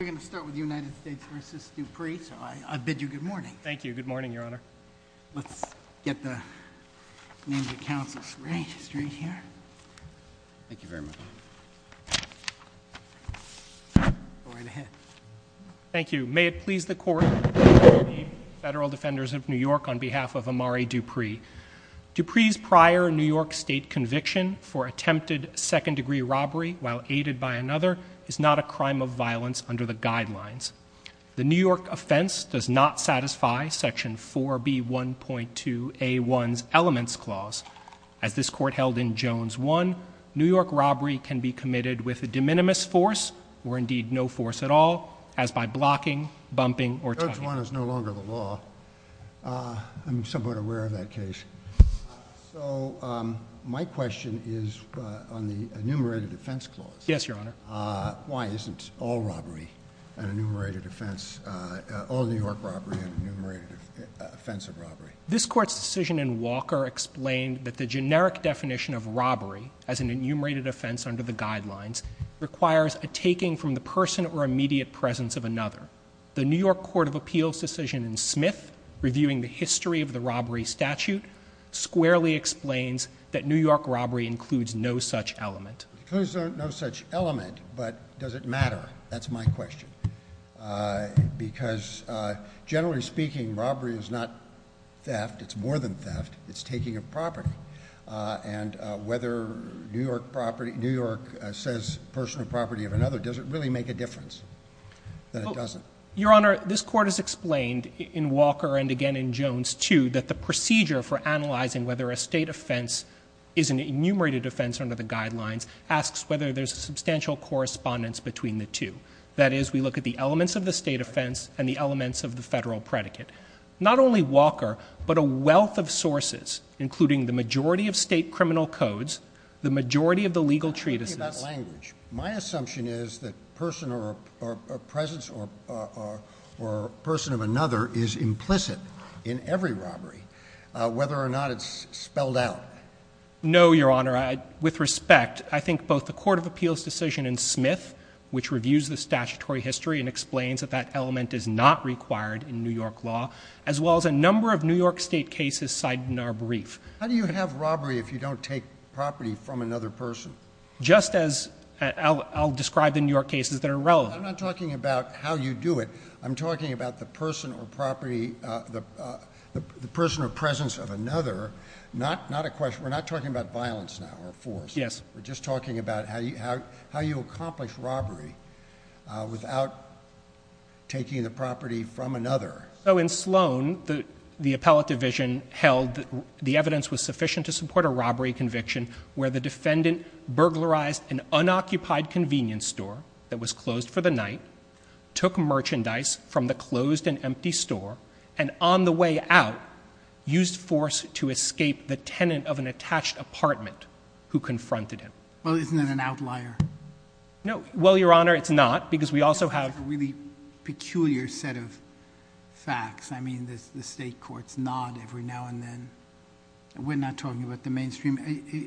We're going to start with United States v. Dupree, so I bid you good morning. Thank you. Good morning, Your Honor. Let's get the names of the counsels right here. Thank you very much. Go right ahead. Thank you. May it please the Court, the Federal Defenders of New York, on behalf of Amari Dupree. Dupree's prior New York State conviction for attempted second degree robbery while aided by another is not a crime of violence under the guidelines. The New York offense does not satisfy section 4B1.2A1's elements clause. As this court held in Jones 1, New York robbery can be committed with a de minimis force, or indeed no force at all, as by blocking, bumping, or tugging. Jones 1 is no longer the law. I'm somewhat aware of that case. So my question is on the enumerated offense clause. Yes, Your Honor. Why isn't all robbery an enumerated offense, all New York robbery an enumerated offense of robbery? This court's decision in Walker explained that the generic definition of robbery, as an enumerated offense under the guidelines, requires a taking from the person or immediate presence of another. The New York Court of Appeals decision in Smith, reviewing the history of the robbery statute, squarely explains that New York robbery includes no such element. Includes no such element, but does it matter? That's my question, because generally speaking, robbery is not theft, it's more than theft, it's taking a property. And whether New York says personal property of another doesn't really make a difference. That it doesn't. Your Honor, this court has explained in Walker and again in Jones 2 that the procedure for analyzing whether a state offense is an enumerated offense under the guidelines asks whether there's a substantial correspondence between the two. That is, we look at the elements of the state offense and the elements of the federal predicate. Not only Walker, but a wealth of sources, including the majority of state criminal codes, the majority of the legal treatises. My assumption is that a person or a presence or a person of another is implicit in every robbery, whether or not it's spelled out. No, Your Honor. With respect, I think both the Court of Appeals decision in Smith, which reviews the statutory history and law, as well as a number of New York State cases cited in our brief. How do you have robbery if you don't take property from another person? Just as, I'll describe the New York cases that are relevant. I'm not talking about how you do it. I'm talking about the person or property, the person or presence of another. Not a question, we're not talking about violence now or force. Yes. We're just talking about how you accomplish robbery without taking the property from another. So in Sloan, the appellate division held that the evidence was sufficient to support a robbery conviction, where the defendant burglarized an unoccupied convenience store that was closed for the night, took merchandise from the closed and empty store, and on the way out, used force to escape the tenant of an attached apartment who confronted him. Well, isn't that an outlier? No. Well, Your Honor, it's not, because we also have- A peculiar set of facts. I mean, the state courts nod every now and then. We're not talking about the mainstream.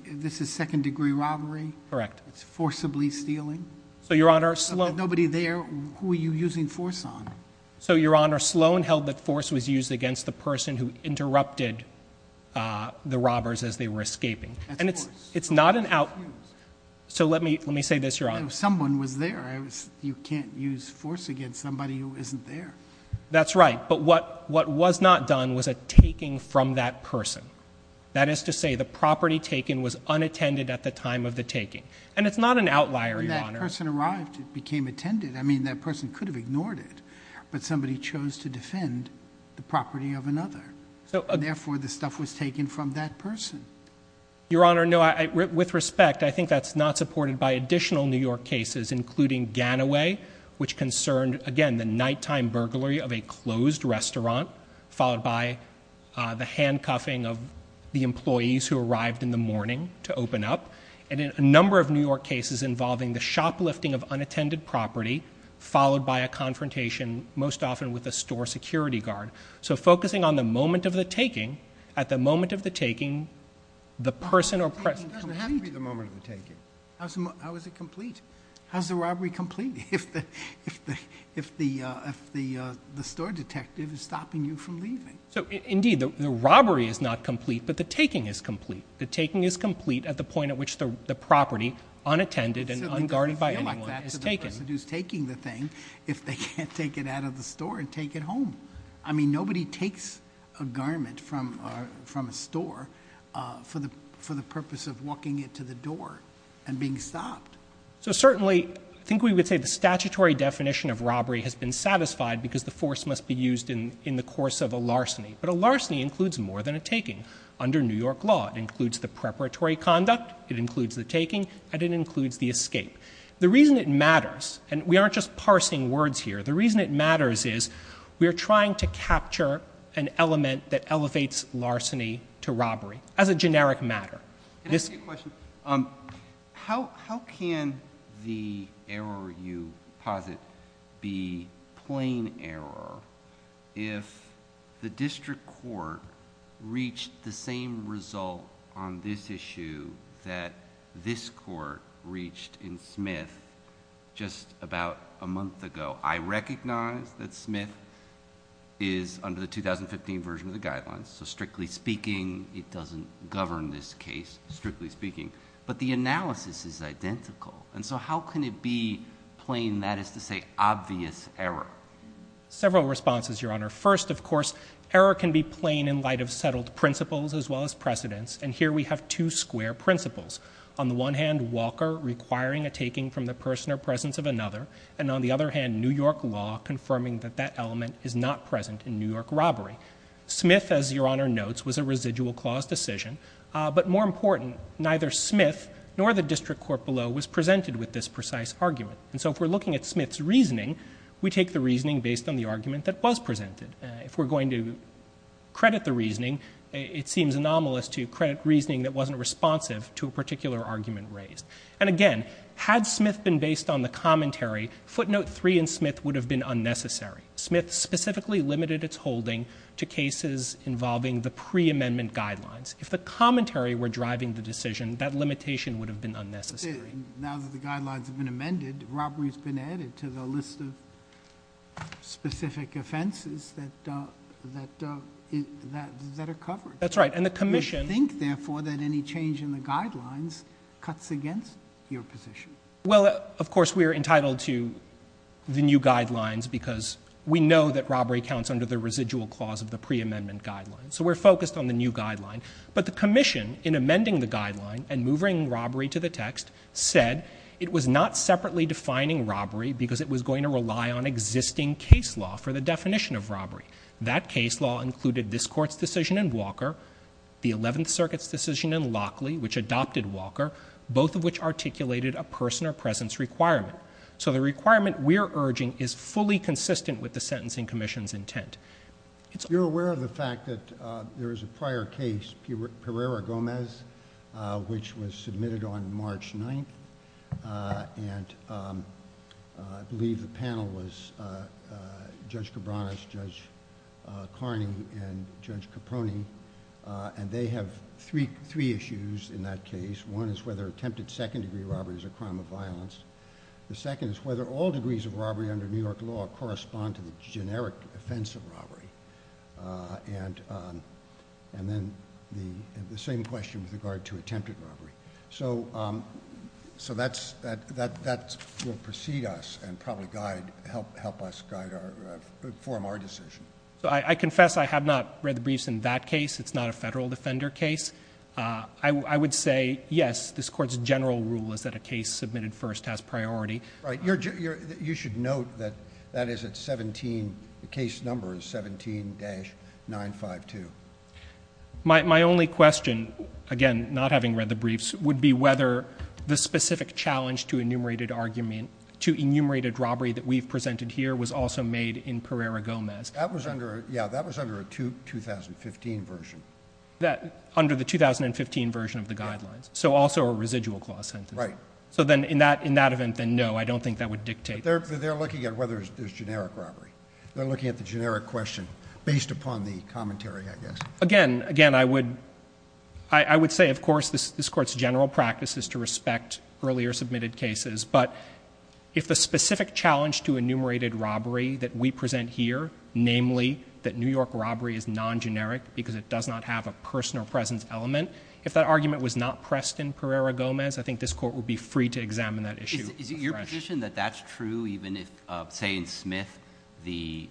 This is second degree robbery. Correct. It's forcibly stealing. So, Your Honor, Sloan- Nobody there, who are you using force on? So, Your Honor, Sloan held that force was used against the person who interrupted the robbers as they were escaping. That's force. It's not an outlier. So let me say this, Your Honor. Someone was there. You can't use force against somebody who isn't there. That's right. But what was not done was a taking from that person. That is to say, the property taken was unattended at the time of the taking. And it's not an outlier, Your Honor. When that person arrived, it became attended. I mean, that person could have ignored it, but somebody chose to defend the property of another. So, therefore, the stuff was taken from that person. Your Honor, no, with respect, I think that's not supported by additional New York cases, including Gataway, which concerned, again, the nighttime burglary of a closed restaurant, followed by the handcuffing of the employees who arrived in the morning to open up. And a number of New York cases involving the shoplifting of unattended property, followed by a confrontation, most often with a store security guard. So, focusing on the moment of the taking, at the moment of the taking, the person or person- How is it complete? How's the robbery complete if the store detective is stopping you from leaving? So, indeed, the robbery is not complete, but the taking is complete. The taking is complete at the point at which the property, unattended and unguarded by anyone, is taken. The person who's taking the thing, if they can't take it out of the store and take it home. I mean, nobody takes a garment from a store for the purpose of walking it to the door and being stopped. So, certainly, I think we would say the statutory definition of robbery has been satisfied because the force must be used in the course of a larceny. But a larceny includes more than a taking. Under New York law, it includes the preparatory conduct, it includes the taking, and it includes the escape. The reason it matters, and we aren't just parsing words here, the reason it matters is we are trying to capture an element that elevates larceny to robbery, as a generic matter. This- Can I ask you a question? How can the error you posit be plain error if the district court reached the same result on this issue that this court reached in Smith just about a month ago? I recognize that Smith is under the 2015 version of the guidelines, so strictly speaking, it doesn't govern this case, strictly speaking. But the analysis is identical, and so how can it be plain, that is to say, obvious error? Several responses, Your Honor. First, of course, error can be plain in light of settled principles as well as precedents. And here we have two square principles. On the one hand, Walker requiring a taking from the person or presence of another. And on the other hand, New York law confirming that that element is not present in New York robbery. Smith, as Your Honor notes, was a residual clause decision. But more important, neither Smith nor the district court below was presented with this precise argument. And so if we're looking at Smith's reasoning, we take the reasoning based on the argument that was presented. If we're going to credit the reasoning, it seems anomalous to credit reasoning that wasn't responsive to a particular argument raised. And again, had Smith been based on the commentary, footnote three in Smith would have been unnecessary. Smith specifically limited its holding to cases involving the pre-amendment guidelines. If the commentary were driving the decision, that limitation would have been unnecessary. Now that the guidelines have been amended, robbery's been added to the list of specific offenses that are covered. That's right, and the commission- We think, therefore, that any change in the guidelines cuts against your position. Well, of course, we are entitled to the new guidelines, because we know that robbery counts under the residual clause of the pre-amendment guidelines. So we're focused on the new guideline. But the commission, in amending the guideline and moving robbery to the text, said it was not separately defining robbery because it was going to rely on existing case law for the definition of robbery. That case law included this court's decision in Walker, the 11th Circuit's decision in Lockley, which adopted Walker, both of which articulated a person or presence requirement. So the requirement we're urging is fully consistent with the sentencing commission's intent. You're aware of the fact that there is a prior case, Pereira-Gomez, which was submitted on March 9th. And I believe the panel was Judge Cabranes, Judge Carney, and Judge Caproni, and they have three issues in that case. One is whether attempted second degree robbery is a crime of violence. The second is whether all degrees of robbery under New York law correspond to the generic offense of robbery. And then the same question with regard to attempted robbery. So that will precede us and probably help us form our decision. I confess I have not read the briefs in that case. It's not a federal defender case. I would say, yes, this court's general rule is that a case submitted first has priority. Right, you should note that that is at 17, the case number is 17-952. My only question, again, not having read the briefs, would be whether the specific challenge to enumerated robbery that we've presented here was also made in Pereira-Gomez. That was under, yeah, that was under a 2015 version. That under the 2015 version of the guidelines, so also a residual clause sentence. Right. So then in that event, then no, I don't think that would dictate. They're looking at whether there's generic robbery. They're looking at the generic question based upon the commentary, I guess. Again, I would say, of course, this court's general practice is to respect earlier submitted cases. But if the specific challenge to enumerated robbery that we present here, namely that New York robbery is non-generic because it does not have a personal presence element. If that argument was not pressed in Pereira-Gomez, I think this court would be free to examine that issue. Is it your position that that's true even if, say in Smith, the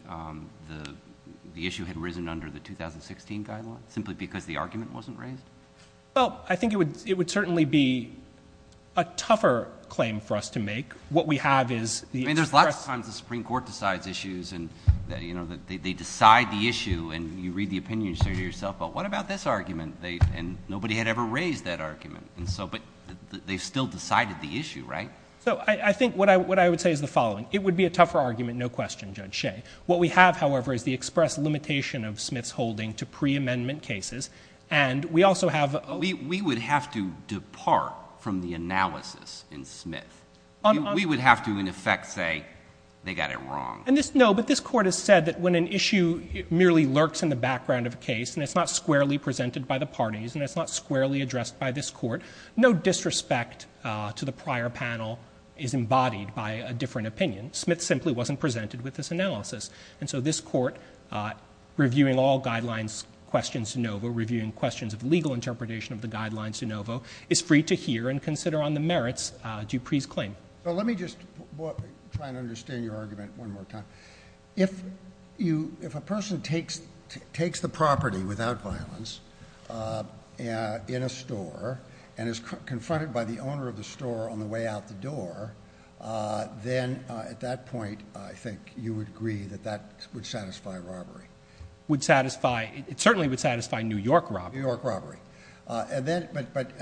issue had risen under the 2016 guideline, simply because the argument wasn't raised? Well, I think it would certainly be a tougher claim for us to make. What we have is the express- They decide the issue, and you read the opinion and say to yourself, well, what about this argument? And nobody had ever raised that argument, but they've still decided the issue, right? So I think what I would say is the following. It would be a tougher argument, no question, Judge Shea. What we have, however, is the express limitation of Smith's holding to pre-amendment cases. And we also have- We would have to depart from the analysis in Smith. We would have to, in effect, say they got it wrong. And this, no, but this court has said that when an issue merely lurks in the background of a case, and it's not squarely presented by the parties, and it's not squarely addressed by this court, no disrespect to the prior panel is embodied by a different opinion. Smith simply wasn't presented with this analysis. And so this court, reviewing all guidelines, questions de novo, reviewing questions of legal interpretation of the guidelines de novo, is free to hear and consider on the merits Dupree's claim. But let me just try and understand your argument one more time. If a person takes the property without violence in a store, and is confronted by the owner of the store on the way out the door, then at that point, I think you would agree that that would satisfy robbery. Would satisfy, it certainly would satisfy New York robbery. New York robbery. And then, but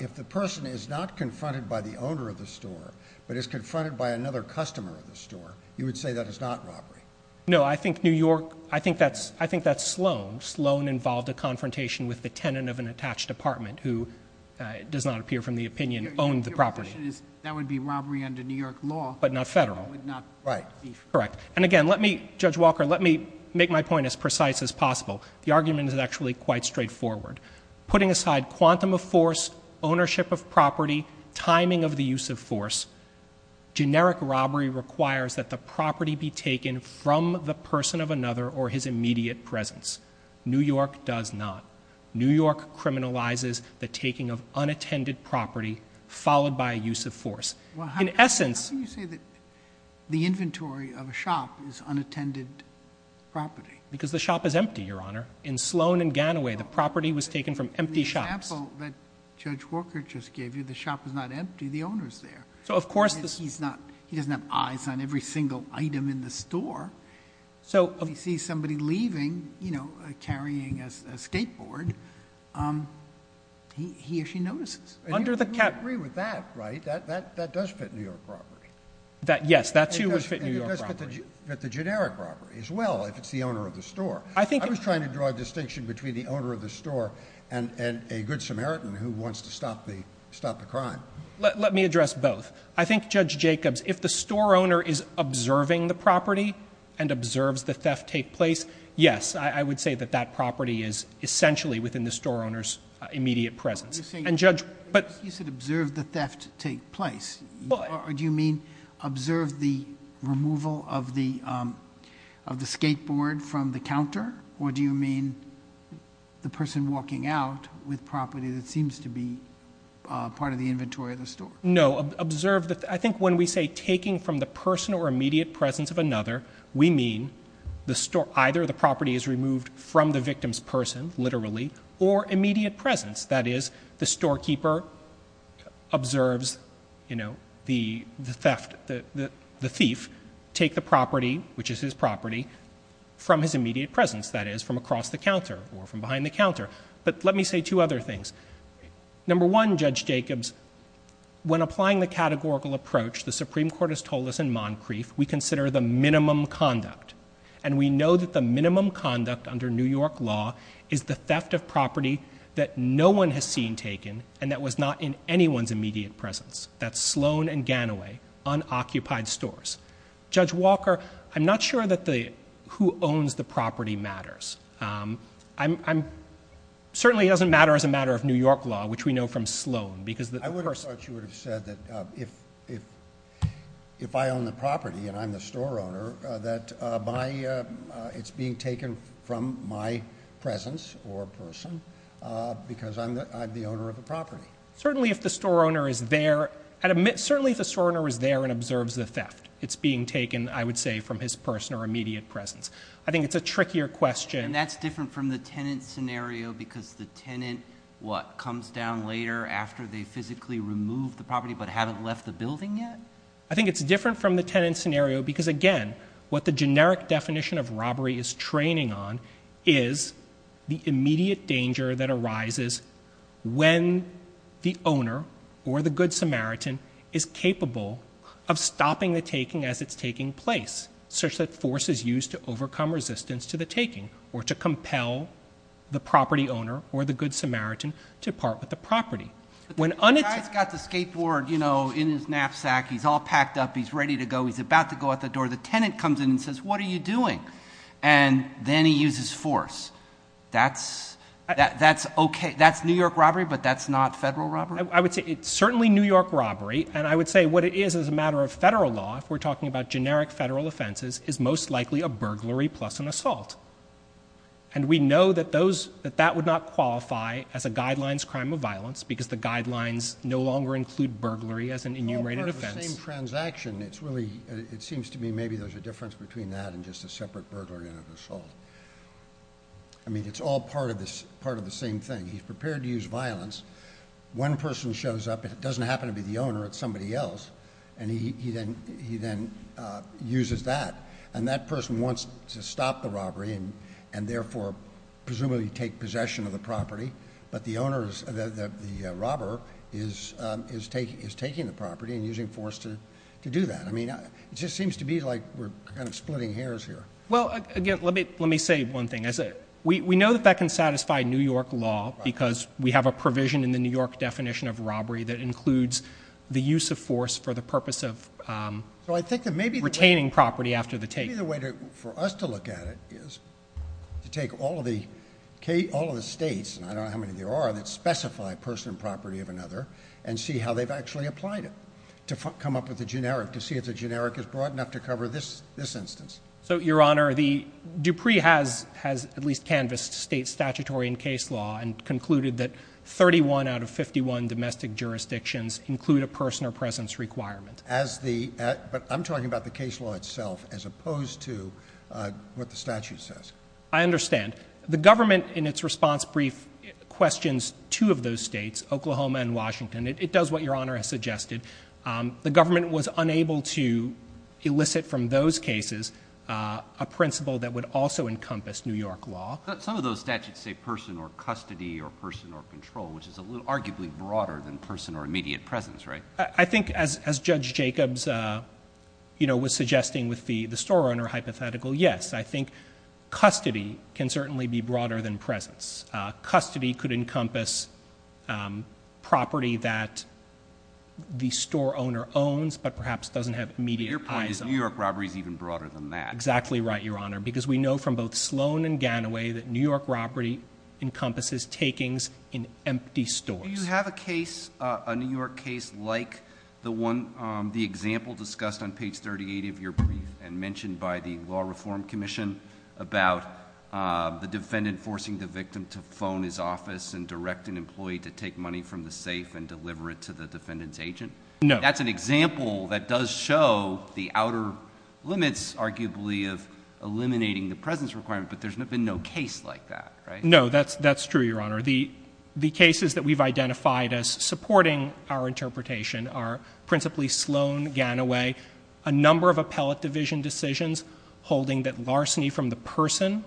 if the person is not confronted by the owner of the store, but is confronted by another customer of the store, you would say that is not robbery. No, I think New York, I think that's Sloan. Sloan involved a confrontation with the tenant of an attached apartment who does not appear from the opinion, owned the property. That would be robbery under New York law. But not federal. Right. Correct. And again, let me, Judge Walker, let me make my point as precise as possible. The argument is actually quite straightforward. Putting aside quantum of force, ownership of property, timing of the use of force. Generic robbery requires that the property be taken from the person of another or his immediate presence. New York does not. New York criminalizes the taking of unattended property followed by a use of force. In essence- How can you say that the inventory of a shop is unattended property? Because the shop is empty, your honor. In Sloan and Ganaway, the property was taken from empty shops. In the example that Judge Walker just gave you, the shop is not empty, the owner's there. So of course- And he doesn't have eyes on every single item in the store. So if you see somebody leaving, carrying a skateboard, he or she notices. Under the cap- You agree with that, right? That does fit New York property. That, yes, that too would fit New York property. And it does fit the generic property as well, if it's the owner of the store. I think- I was trying to draw a distinction between the owner of the store and a good Samaritan who wants to stop the crime. Let me address both. I think, Judge Jacobs, if the store owner is observing the property and observes the theft take place, yes, I would say that that property is essentially within the store owner's immediate presence. And Judge- You said observe the theft take place. Do you mean observe the removal of the skateboard from the counter? Or do you mean the person walking out with property that seems to be part of the inventory of the store? No, observe the, I think when we say taking from the personal or immediate presence of another, we mean either the property is removed from the victim's person, literally, or immediate presence. That is, the storekeeper observes the theft, the thief take the property, which is his property, from his immediate presence. That is, from across the counter or from behind the counter. But let me say two other things. Number one, Judge Jacobs, when applying the categorical approach the Supreme Court has told us in Moncrief, we consider the minimum conduct and we know that the minimum conduct under New York law is the theft of property that no one has seen taken and that was not in anyone's immediate presence. That's Sloan and Ganaway, unoccupied stores. Judge Walker, I'm not sure that the, who owns the property matters. I'm, certainly it doesn't matter as a matter of New York law, which we know from Sloan, because the- I would have thought you would have said that if I own the property and I'm the store owner, that my, it's being taken from my presence or person because I'm the owner of the property. Certainly if the store owner is there, certainly if the store owner is there and observes the theft, it's being taken, I would say, from his person or immediate presence. I think it's a trickier question. And that's different from the tenant scenario because the tenant, what, comes down later after they physically remove the property but haven't left the building yet? I think it's different from the tenant scenario because again, what the generic definition of robbery is training on is the immediate danger that arises when the owner or the good Samaritan is capable of stopping the taking as it's taking place. Such that force is used to overcome resistance to the taking or to compel the property owner or the good Samaritan to part with the property. When- The guy's got the skateboard in his knapsack, he's all packed up, he's ready to go, he's about to go out the door. The tenant comes in and says, what are you doing? And then he uses force. That's okay, that's New York robbery, but that's not federal robbery? I would say it's certainly New York robbery. And I would say what it is as a matter of federal law, if we're talking about generic federal offenses, is most likely a burglary plus an assault. And we know that that would not qualify as a guidelines crime of violence because the guidelines no longer include burglary as an enumerated offense. It's all part of the same transaction, it seems to me maybe there's a difference between that and just a separate burglary and an assault. I mean, it's all part of the same thing. He's prepared to use violence. One person shows up and it doesn't happen to be the owner, it's somebody else. And he then uses that. And that person wants to stop the robbery and therefore presumably take possession of the property. But the robber is taking the property and using force to do that. I mean, it just seems to be like we're kind of splitting hairs here. Well, again, let me say one thing. We know that that can satisfy New York law because we have a provision in the New York definition of robbery that includes the use of force for the purpose of retaining property after the take. Maybe the way for us to look at it is to take all of the states, and I don't know how many there are, that specify person and property of another and see how they've actually applied it. To come up with a generic, to see if the generic is broad enough to cover this instance. So, your honor, the Dupree has at least canvassed state statutory and case law and include a person or presence requirement. But I'm talking about the case law itself as opposed to what the statute says. I understand. The government in its response brief questions two of those states, Oklahoma and Washington. It does what your honor has suggested. The government was unable to elicit from those cases a principle that would also encompass New York law. Some of those statutes say person or custody or person or control, which is arguably broader than person or immediate presence, right? I think as Judge Jacobs was suggesting with the store owner hypothetical, yes. I think custody can certainly be broader than presence. Custody could encompass property that the store owner owns, but perhaps doesn't have immediate eyes on. Your point is New York robbery is even broader than that. You're exactly right, your honor, because we know from both Sloan and Ganaway that New York robbery encompasses takings in empty stores. Do you have a case, a New York case like the example discussed on page 38 of your brief and mentioned by the Law Reform Commission about the defendant forcing the victim to phone his office and direct an employee to take money from the safe and deliver it to the defendant's agent? No. That's an example that does show the outer limits, arguably, of eliminating the presence requirement, but there's been no case like that, right? No, that's true, your honor. The cases that we've identified as supporting our interpretation are principally Sloan, Ganaway, a number of appellate division decisions holding that larceny from the person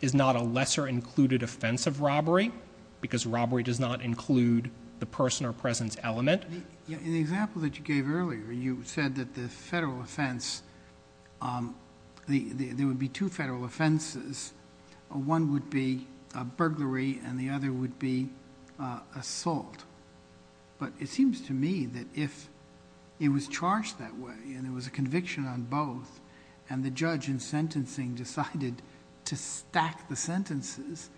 is not a lesser included offense of robbery because robbery does not include the person or presence element. In the example that you gave earlier, you said that the federal offense, there would be two federal offenses. One would be a burglary and the other would be assault. But it seems to me that if it was charged that way and it was a conviction on both and the judge in sentencing decided to stack the sentences,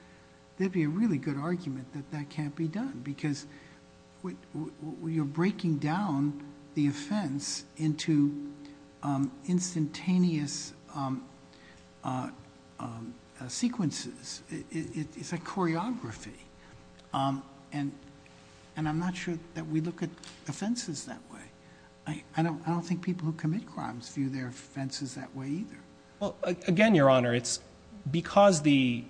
there'd be a really good argument that that can't be done. Because you're breaking down the offense into instantaneous sequences. It's a choreography. And I'm not sure that we look at offenses that way. I don't think people who commit crimes view their offenses that way either. Well, again, your honor, it's because the,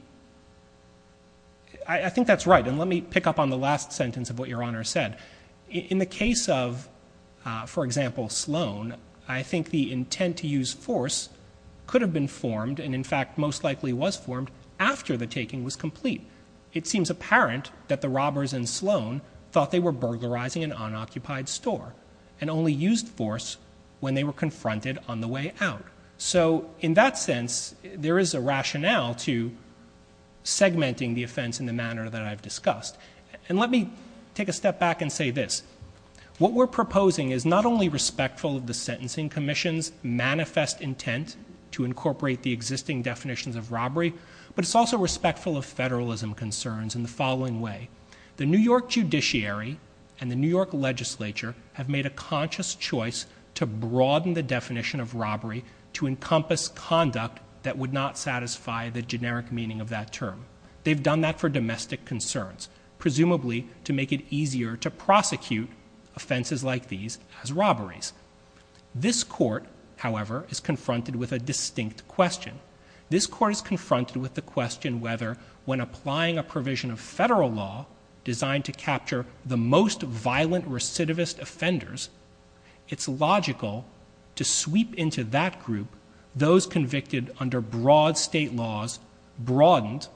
I think that's right. And let me pick up on the last sentence of what your honor said. In the case of, for example, Sloan, I think the intent to use force could have been formed and in fact most likely was formed after the taking was complete. It seems apparent that the robbers in Sloan thought they were burglarizing an unoccupied store and only used force when they were confronted on the way out. So in that sense, there is a rationale to segmenting the offense in the manner that I've discussed. And let me take a step back and say this. What we're proposing is not only respectful of the sentencing commission's manifest intent to incorporate the existing definitions of robbery, but it's also respectful of federalism concerns in the following way. The New York judiciary and the New York legislature have made a conscious choice to broaden the definition of robbery to encompass conduct that would not satisfy the generic meaning of that term. They've done that for domestic concerns, presumably to make it easier to prosecute offenses like these as robberies. This court, however, is confronted with a distinct question. This court is confronted with the question whether when applying a provision of federal law designed to capture the most violent recidivist offenders, it's logical to sweep into that group those convicted under broad state laws, broadened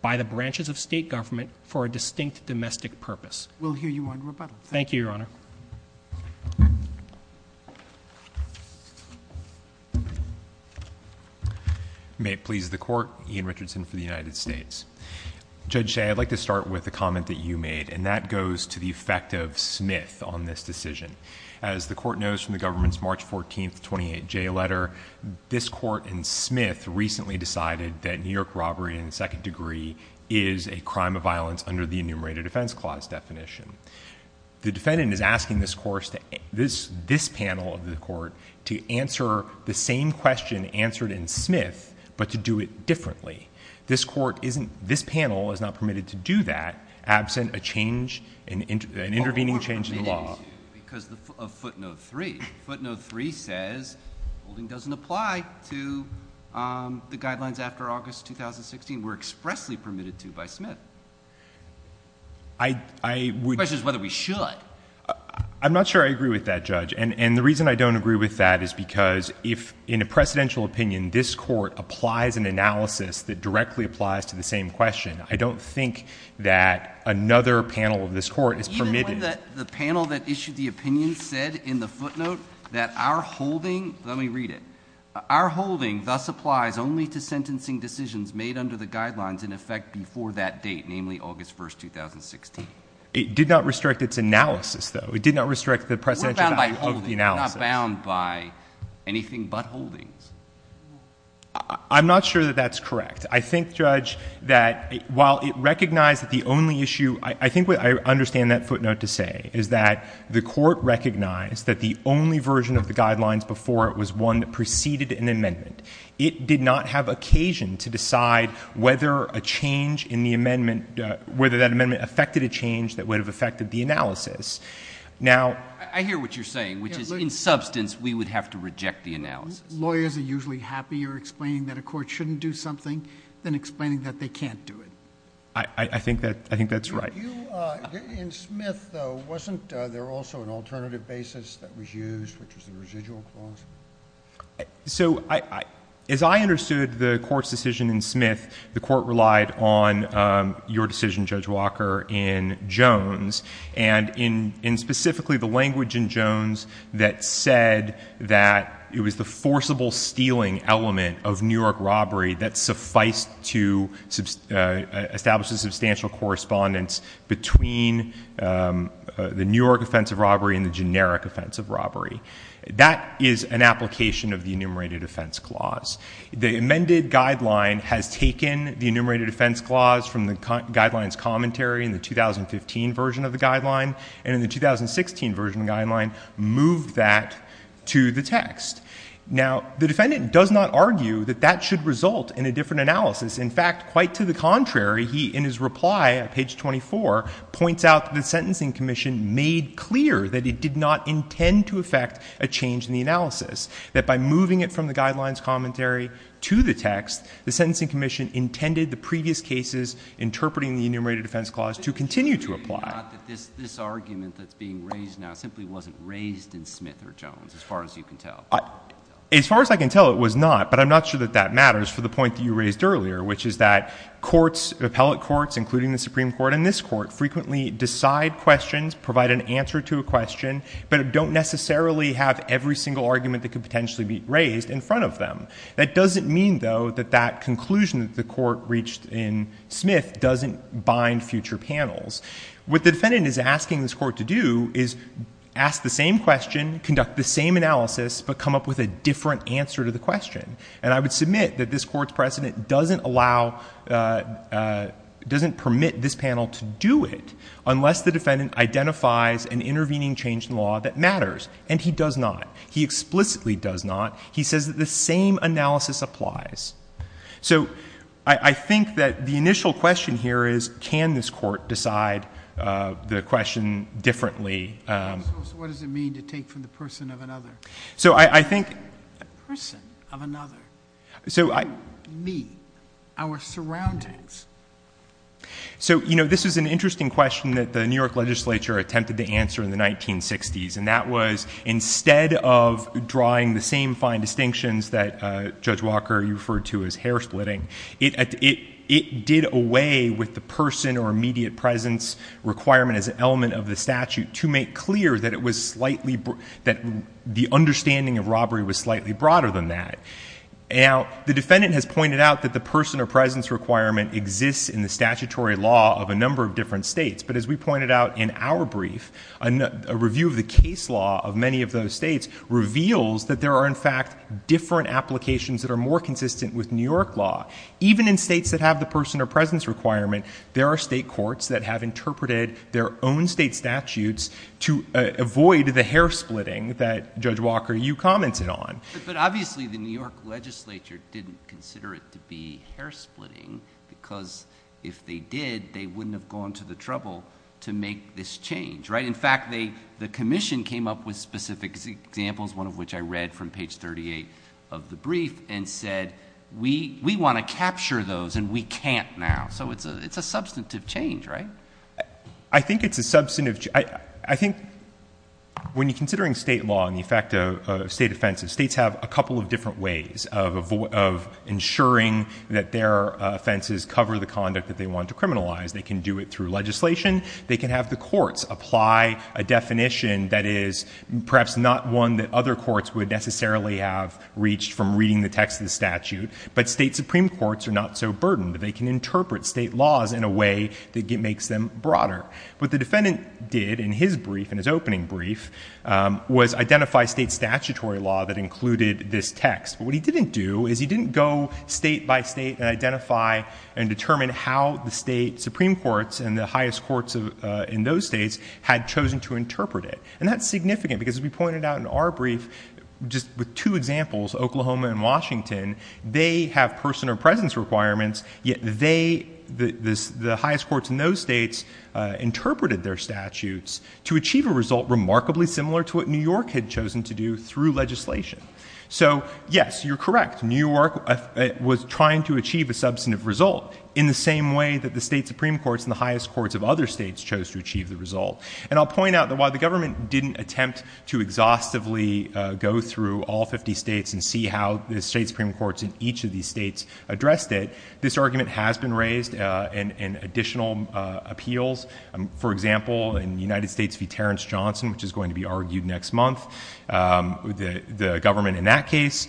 by the branches of state government for a distinct domestic purpose. We'll hear you on rebuttal. Thank you, Your Honor. May it please the court, Ian Richardson for the United States. Judge Shea, I'd like to start with a comment that you made, and that goes to the effect of Smith on this decision. As the court knows from the government's March 14th 28J letter, this court and Smith recently decided that New York robbery in the second degree is a crime of violence under the enumerated defense clause definition. The defendant is asking this panel of the court to answer the same question answered in Smith, but to do it differently. This court isn't, this panel is not permitted to do that absent a change, an intervening change in the law. Because of footnote three. Footnote three says, holding doesn't apply to the guidelines after August 2016 were expressly permitted to by Smith. I would- The question is whether we should. I'm not sure I agree with that, Judge. And the reason I don't agree with that is because if in a precedential opinion, this court applies an analysis that directly applies to the same question, I don't think that another panel of this court is permitted. Even when the panel that issued the opinion said in the footnote that our holding, let me read it. Our holding thus applies only to sentencing decisions made under the guidelines in effect before that date, namely August 1st, 2016. It did not restrict its analysis, though. It did not restrict the precedential value of the analysis. We're not bound by anything but holdings. I'm not sure that that's correct. I think, Judge, that while it recognized that the only issue, I think I understand that footnote to say, is that the court recognized that the only version of the guidelines before it was one that preceded an amendment. It did not have occasion to decide whether a change in the amendment, whether that amendment affected a change that would have affected the analysis. Now- I hear what you're saying, which is in substance, we would have to reject the analysis. Lawyers are usually happier explaining that a court shouldn't do something than explaining that they can't do it. I think that's right. In Smith, though, wasn't there also an alternative basis that was used, which was the residual clause? So, as I understood the court's decision in Smith, the court relied on your decision, Judge Walker, in Jones. And in specifically the language in Jones that said that it was the forcible stealing element of New York robbery that sufficed to establish a substantial correspondence between the New York offense of robbery and the generic offense of robbery. That is an application of the enumerated offense clause. The amended guideline has taken the enumerated offense clause from the guidelines commentary in the 2015 version of the guideline. And in the 2016 version of the guideline, moved that to the text. Now, the defendant does not argue that that should result in a different analysis. In fact, quite to the contrary, he, in his reply at page 24, points out that the Sentencing Commission made clear that it did not intend to effect a change in the analysis. That by moving it from the guidelines commentary to the text, the Sentencing Commission intended the previous cases, interpreting the enumerated offense clause, to continue to apply. Not that this argument that's being raised now simply wasn't raised in Smith or Jones, as far as you can tell. As far as I can tell, it was not. But I'm not sure that that matters for the point that you raised earlier, which is that courts, appellate courts, including the Supreme Court and this court, frequently decide questions, provide an answer to a question, but don't necessarily have every single argument that could potentially be raised in front of them. That doesn't mean, though, that that conclusion that the court reached in Smith doesn't bind future panels. What the defendant is asking this court to do is ask the same question, conduct the same analysis, but come up with a different answer to the question. And I would submit that this court's precedent doesn't allow, doesn't permit this panel to do it, unless the defendant identifies an intervening change in law that matters. And he does not. He explicitly does not. He says that the same analysis applies. So, I think that the initial question here is, can this court decide the question differently? What does it mean to take from the person of another? So, I think- The person of another. So, I- Me. Our surroundings. So, you know, this is an interesting question that the New York legislature attempted to answer in the 1960s. And that was, instead of drawing the same fine distinctions that Judge Walker, you referred to as hair splitting, it did away with the person or immediate presence requirement as an element of the statute to make clear that it was slightly, that the understanding of robbery was slightly broader than that. Now, the defendant has pointed out that the person or presence requirement exists in the statutory law of a number of different states. But as we pointed out in our brief, a review of the case law of many of those states reveals that there are, in fact, different applications that are more consistent with New York law. Even in states that have the person or presence requirement, there are state courts that have interpreted their own state statutes to avoid the hair splitting that Judge Walker, you commented on. But obviously, the New York legislature didn't consider it to be hair splitting because if they did, they wouldn't have gone to the trouble to make this change, right? And in fact, the commission came up with specific examples, one of which I read from page 38 of the brief, and said, we want to capture those and we can't now. So it's a substantive change, right? I think it's a substantive, I think when you're considering state law and the effect of state offenses, states have a couple of different ways of ensuring that their offenses cover the conduct that they want to criminalize. They can do it through legislation. They can have the courts apply a definition that is perhaps not one that other courts would necessarily have reached from reading the text of the statute, but state supreme courts are not so burdened. They can interpret state laws in a way that makes them broader. What the defendant did in his brief, in his opening brief, was identify state statutory law that included this text. But what he didn't do is he didn't go state by state and identify and the highest courts in those states had chosen to interpret it. And that's significant, because as we pointed out in our brief, just with two examples, Oklahoma and Washington. They have person or presence requirements, yet the highest courts in those states interpreted their statutes to achieve a result remarkably similar to what New York had chosen to do through legislation. So yes, you're correct, New York was trying to achieve a substantive result in the same way that the state supreme courts and the highest courts of other states chose to achieve the result. And I'll point out that while the government didn't attempt to exhaustively go through all 50 states and see how the state supreme courts in each of these states addressed it, this argument has been raised in additional appeals. For example, in the United States v. Terrence Johnson, which is going to be argued next month, the government in that case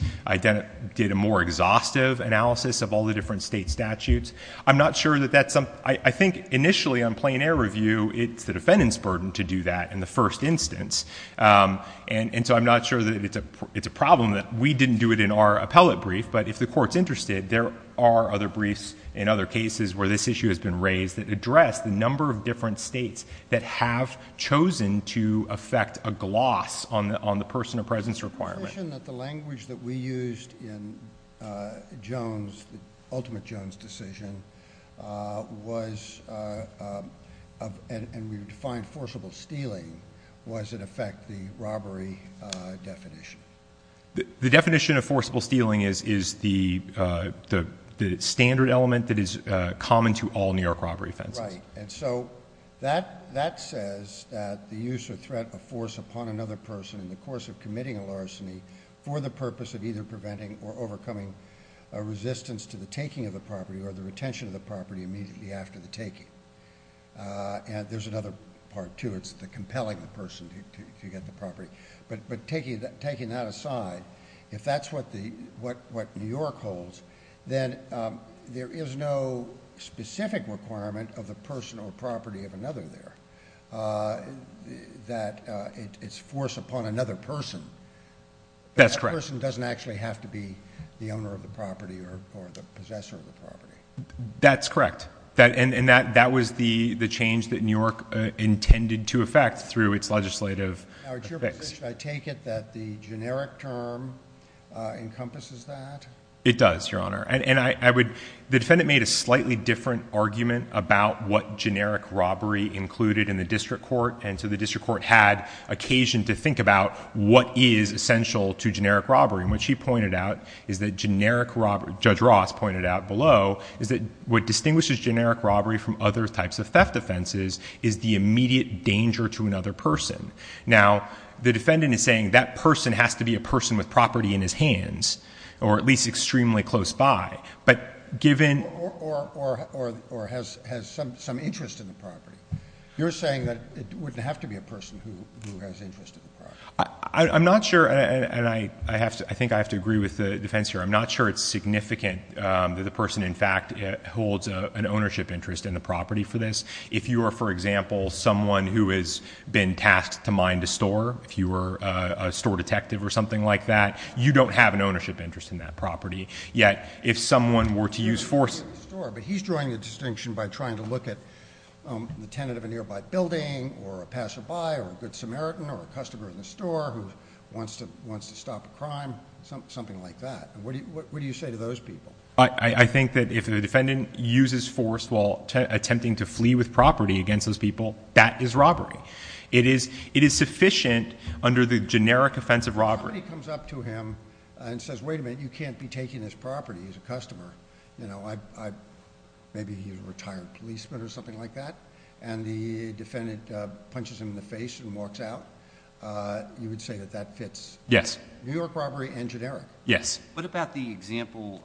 did a more exhaustive analysis of all the different state statutes. I'm not sure that that's, I think initially on plain air review, it's the defendant's burden to do that in the first instance. And so I'm not sure that it's a problem that we didn't do it in our appellate brief. But if the court's interested, there are other briefs in other cases where this issue has been raised that address the number of different states that have chosen to affect a gloss on the person of presence requirement. The language that we used in Jones, the ultimate Jones decision was, and we've defined forcible stealing, was in effect the robbery definition. The definition of forcible stealing is the standard element that is common to all New York robbery offenses. Right, and so that says that the use or threat of force upon another person in the course of committing a larceny for the purpose of either preventing or overcoming a resistance to the taking of the property or the retention of the property immediately after the taking. And there's another part too, it's the compelling the person to get the property. But taking that aside, if that's what New York holds, then there is no specific requirement of the personal property of another there. That it's force upon another person. That person doesn't actually have to be the owner of the property or the possessor of the property. That's correct, and that was the change that New York intended to affect through its legislative. Now it's your position, I take it, that the generic term encompasses that? It does, your honor, and the defendant made a slightly different argument about what generic robbery included in the district court. And so the district court had occasion to think about what is essential to generic robbery. And what she pointed out is that generic robbery, Judge Ross pointed out below, is that what distinguishes generic robbery from other types of theft offenses is the immediate danger to another person. Now, the defendant is saying that person has to be a person with property in his hands. Or at least extremely close by. But given- Or has some interest in the property. You're saying that it wouldn't have to be a person who has interest in the property. I'm not sure, and I think I have to agree with the defense here. I'm not sure it's significant that the person in fact holds an ownership interest in the property for this. If you are, for example, someone who has been tasked to mine the store, if you were a store detective or something like that, you don't have an ownership interest in that property. Yet, if someone were to use force- But he's drawing a distinction by trying to look at the tenant of a nearby building, or a passerby, or a good Samaritan, or a customer in the store who wants to stop a crime, something like that. What do you say to those people? I think that if the defendant uses force while attempting to flee with property against those people, that is robbery. It is sufficient under the generic offense of robbery. If somebody comes up to him and says, wait a minute, you can't be taking this property as a customer. Maybe he's a retired policeman or something like that. And the defendant punches him in the face and walks out, you would say that that fits. Yes. New York robbery and generic. Yes. What about the example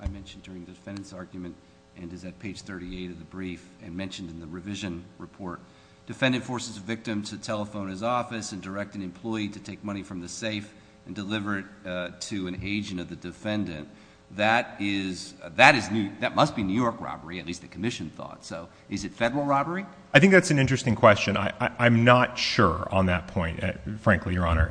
I mentioned during the defendant's argument, and is at page 38 of the brief, and mentioned in the revision report. Defendant forces a victim to telephone his office and direct an employee to take money from the safe and deliver it to an agent of the defendant. That must be New York robbery, at least the commission thought. So, is it federal robbery? I think that's an interesting question. I'm not sure on that point, frankly, your honor.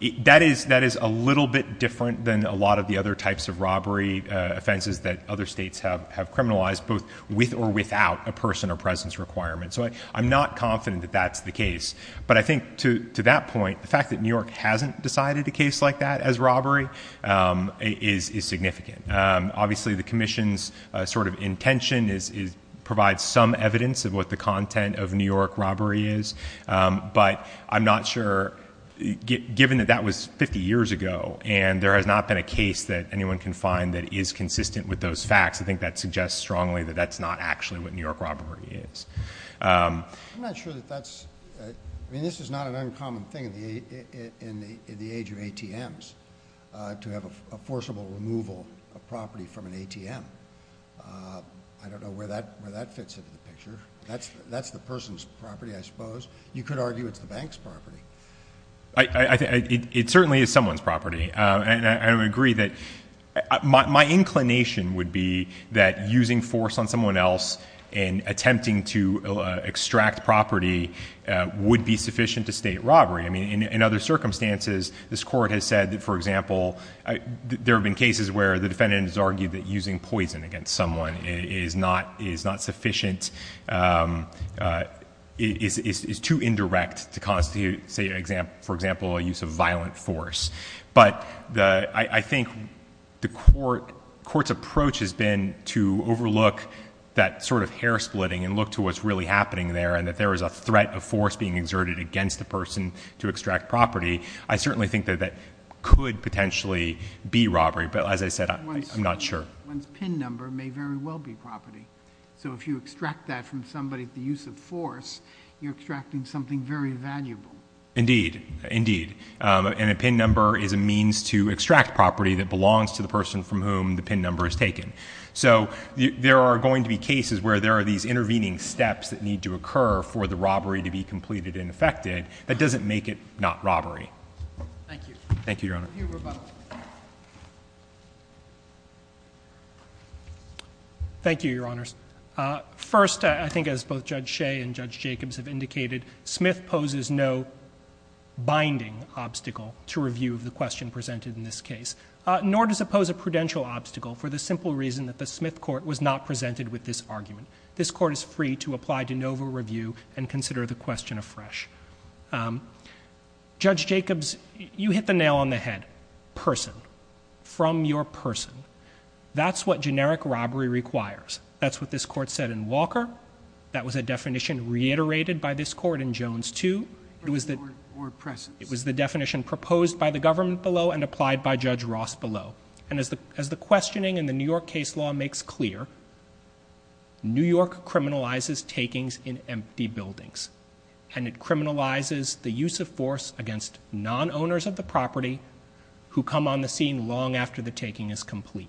That is a little bit different than a lot of the other types of robbery offenses that other states have criminalized, both with or without a person or presence requirement. I'm not confident that that's the case. But I think to that point, the fact that New York hasn't decided a case like that as robbery is significant. Obviously, the commission's sort of intention is provide some evidence of what the content of New York robbery is. But I'm not sure, given that that was 50 years ago and there has not been a case that anyone can find that is consistent with those facts, I think that suggests strongly that that's not actually what New York robbery is. I'm not sure that that's, I mean, this is not an uncommon thing in the age of ATMs. To have a forcible removal of property from an ATM. I don't know where that fits into the picture. That's the person's property, I suppose. You could argue it's the bank's property. I think it certainly is someone's property. And I would agree that my inclination would be that using force on someone else and attempting to extract property would be sufficient to state robbery. I mean, in other circumstances, this court has said that, for example, there have been cases where the defendant has argued that using poison against someone is not sufficient. It is too indirect to constitute, for example, a use of violent force. But I think the court's approach has been to overlook that sort of hair splitting and look to what's really happening there and that there is a threat of force being exerted against the person to extract property. I certainly think that that could potentially be robbery, but as I said, I'm not sure. One's PIN number may very well be property. So if you extract that from somebody with the use of force, you're extracting something very valuable. Indeed, indeed, and a PIN number is a means to extract property that belongs to the person from whom the PIN number is taken. So there are going to be cases where there are these intervening steps that need to occur for the robbery to be completed and effected that doesn't make it not robbery. Thank you. Thank you, Your Honor. Thank you, Your Honors. First, I think as both Judge Shea and Judge Jacobs have indicated, Smith poses no binding obstacle to review of the question presented in this case. Nor does it pose a prudential obstacle for the simple reason that the Smith court was not presented with this argument. This court is free to apply de novo review and consider the question afresh. Judge Jacobs, you hit the nail on the head. Person, from your person. That's what generic robbery requires. That's what this court said in Walker. That was a definition reiterated by this court in Jones too. It was the- Or presence. It was the definition proposed by the government below and applied by Judge Ross below. And as the questioning in the New York case law makes clear, New York criminalizes takings in empty buildings. And it criminalizes the use of force against non-owners of the property who come on the scene long after the taking is complete.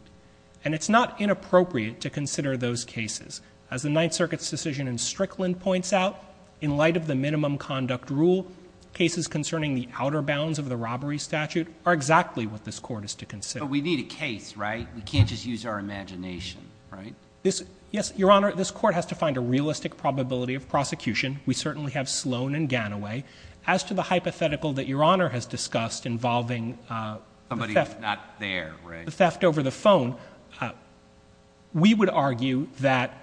And it's not inappropriate to consider those cases. As the Ninth Circuit's decision in Strickland points out, in light of the minimum conduct rule, cases concerning the outer bounds of the robbery statute are exactly what this court is to consider. But we need a case, right? We can't just use our imagination, right? Yes, Your Honor. This court has to find a realistic probability of prosecution. We certainly have Sloan and Ganaway. As to the hypothetical that Your Honor has discussed involving- Somebody who's not there, right? The theft over the phone. We would argue that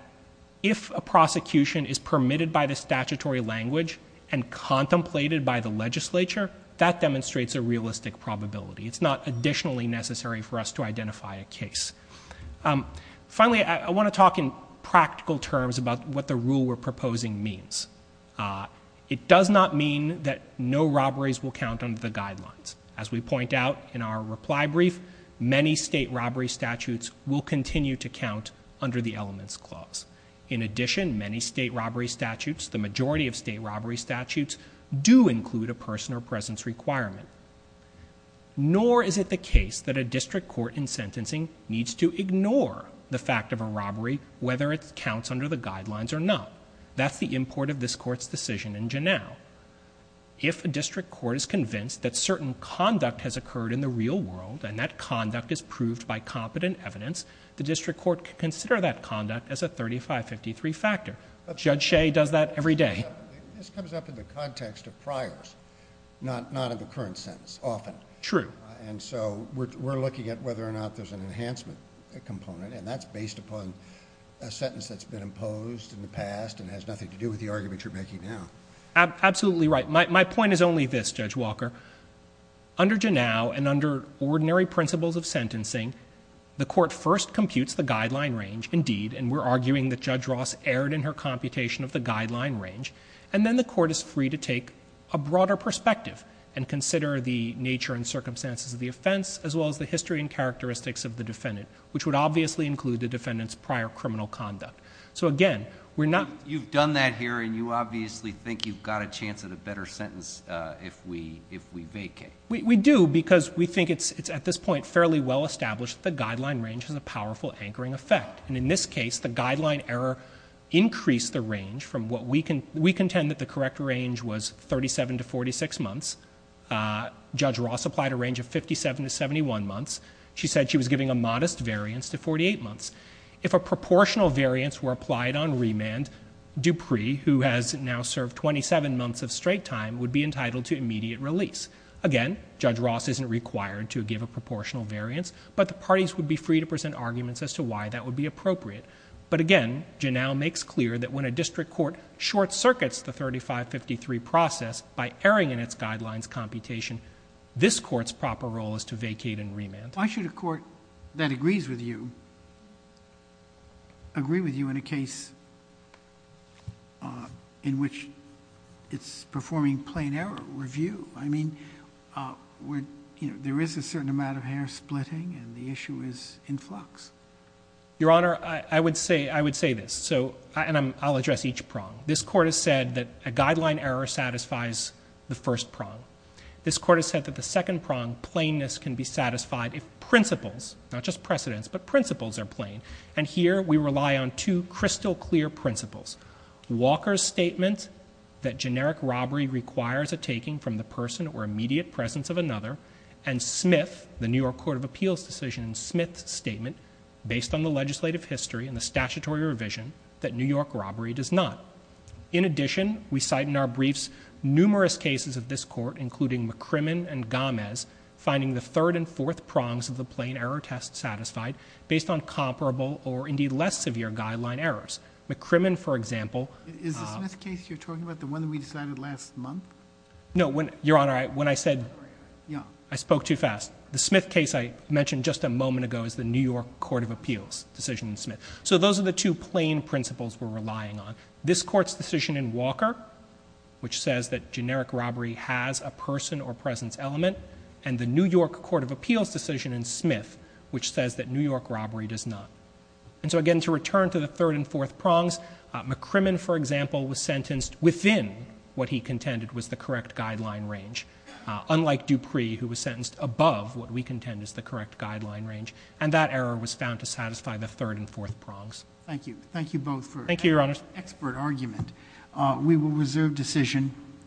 if a prosecution is permitted by the statutory language and contemplated by the legislature, that demonstrates a realistic probability. It's not additionally necessary for us to identify a case. Finally, I want to talk in practical terms about what the rule we're proposing means. It does not mean that no robberies will count under the guidelines. As we point out in our reply brief, many state robbery statutes will continue to count under the elements clause. In addition, many state robbery statutes, the majority of state robbery statutes, do include a person or presence requirement. Nor is it the case that a district court in sentencing needs to ignore the fact of a robbery, whether it counts under the guidelines or not. That's the import of this court's decision in Janow. If a district court is convinced that certain conduct has occurred in the real world, and that conduct is proved by competent evidence, the district court can consider that conduct as a 3553 factor. Judge Shea does that every day. This comes up in the context of priors, not in the current sentence, often. True. And so we're looking at whether or not there's an enhancement component, and that's based upon a sentence that's been imposed in the past and has nothing to do with the argument you're making now. Absolutely right. My point is only this, Judge Walker. Under Janow, and under ordinary principles of sentencing, the court first computes the guideline range. Indeed, and we're arguing that Judge Ross erred in her computation of the guideline range. And then the court is free to take a broader perspective and consider the nature and circumstances of the offense, as well as the history and characteristics of the defendant, which would obviously include the defendant's prior criminal conduct. So again, we're not- You've done that here, and you obviously think you've got a chance at a better sentence if we vacate. We do, because we think it's at this point fairly well established that the guideline range has a powerful anchoring effect. And in this case, the guideline error increased the range from what we contend that the correct range was 37 to 46 months. Judge Ross applied a range of 57 to 71 months. She said she was giving a modest variance to 48 months. If a proportional variance were applied on remand, Dupree, who has now served 27 months of straight time, would be entitled to immediate release. Again, Judge Ross isn't required to give a proportional variance, but the parties would be free to present arguments as to why that would be appropriate. But again, Janow makes clear that when a district court short circuits the 3553 process by erring in its guidelines computation, this court's proper role is to vacate and remand. Why should a court that agrees with you, agree with you in a case in which it's performing plain error review? I mean, there is a certain amount of hair splitting and the issue is in flux. Your Honor, I would say this, and I'll address each prong. This court has said that a guideline error satisfies the first prong. This court has said that the second prong, plainness, can be satisfied if principles, not just precedents, but principles are plain. And here, we rely on two crystal clear principles. Walker's statement that generic robbery requires a taking from the person or immediate presence of another. And Smith, the New York Court of Appeals decision, Smith's statement, based on the legislative history and the statutory revision, that New York robbery does not. In addition, we cite in our briefs numerous cases of this court, including McCrimmon and Gomez, finding the third and fourth prongs of the plain error test satisfied based on comparable or indeed less severe guideline errors. McCrimmon, for example. Is the Smith case you're talking about the one that we decided last month? No, Your Honor, when I said, I spoke too fast. The Smith case I mentioned just a moment ago is the New York Court of Appeals decision in Smith. So those are the two plain principles we're relying on. This court's decision in Walker, which says that generic robbery has a person or presence element, and the New York Court of Appeals decision in Smith, which says that New York robbery does not. And so again, to return to the third and fourth prongs, McCrimmon, for example, was sentenced within what he contended was the correct guideline range. Unlike Dupree, who was sentenced above what we contend is the correct guideline range. And that error was found to satisfy the third and fourth prongs. Thank you. Thank you both for- Thank you, Your Honors. Expert argument. We will reserve decision.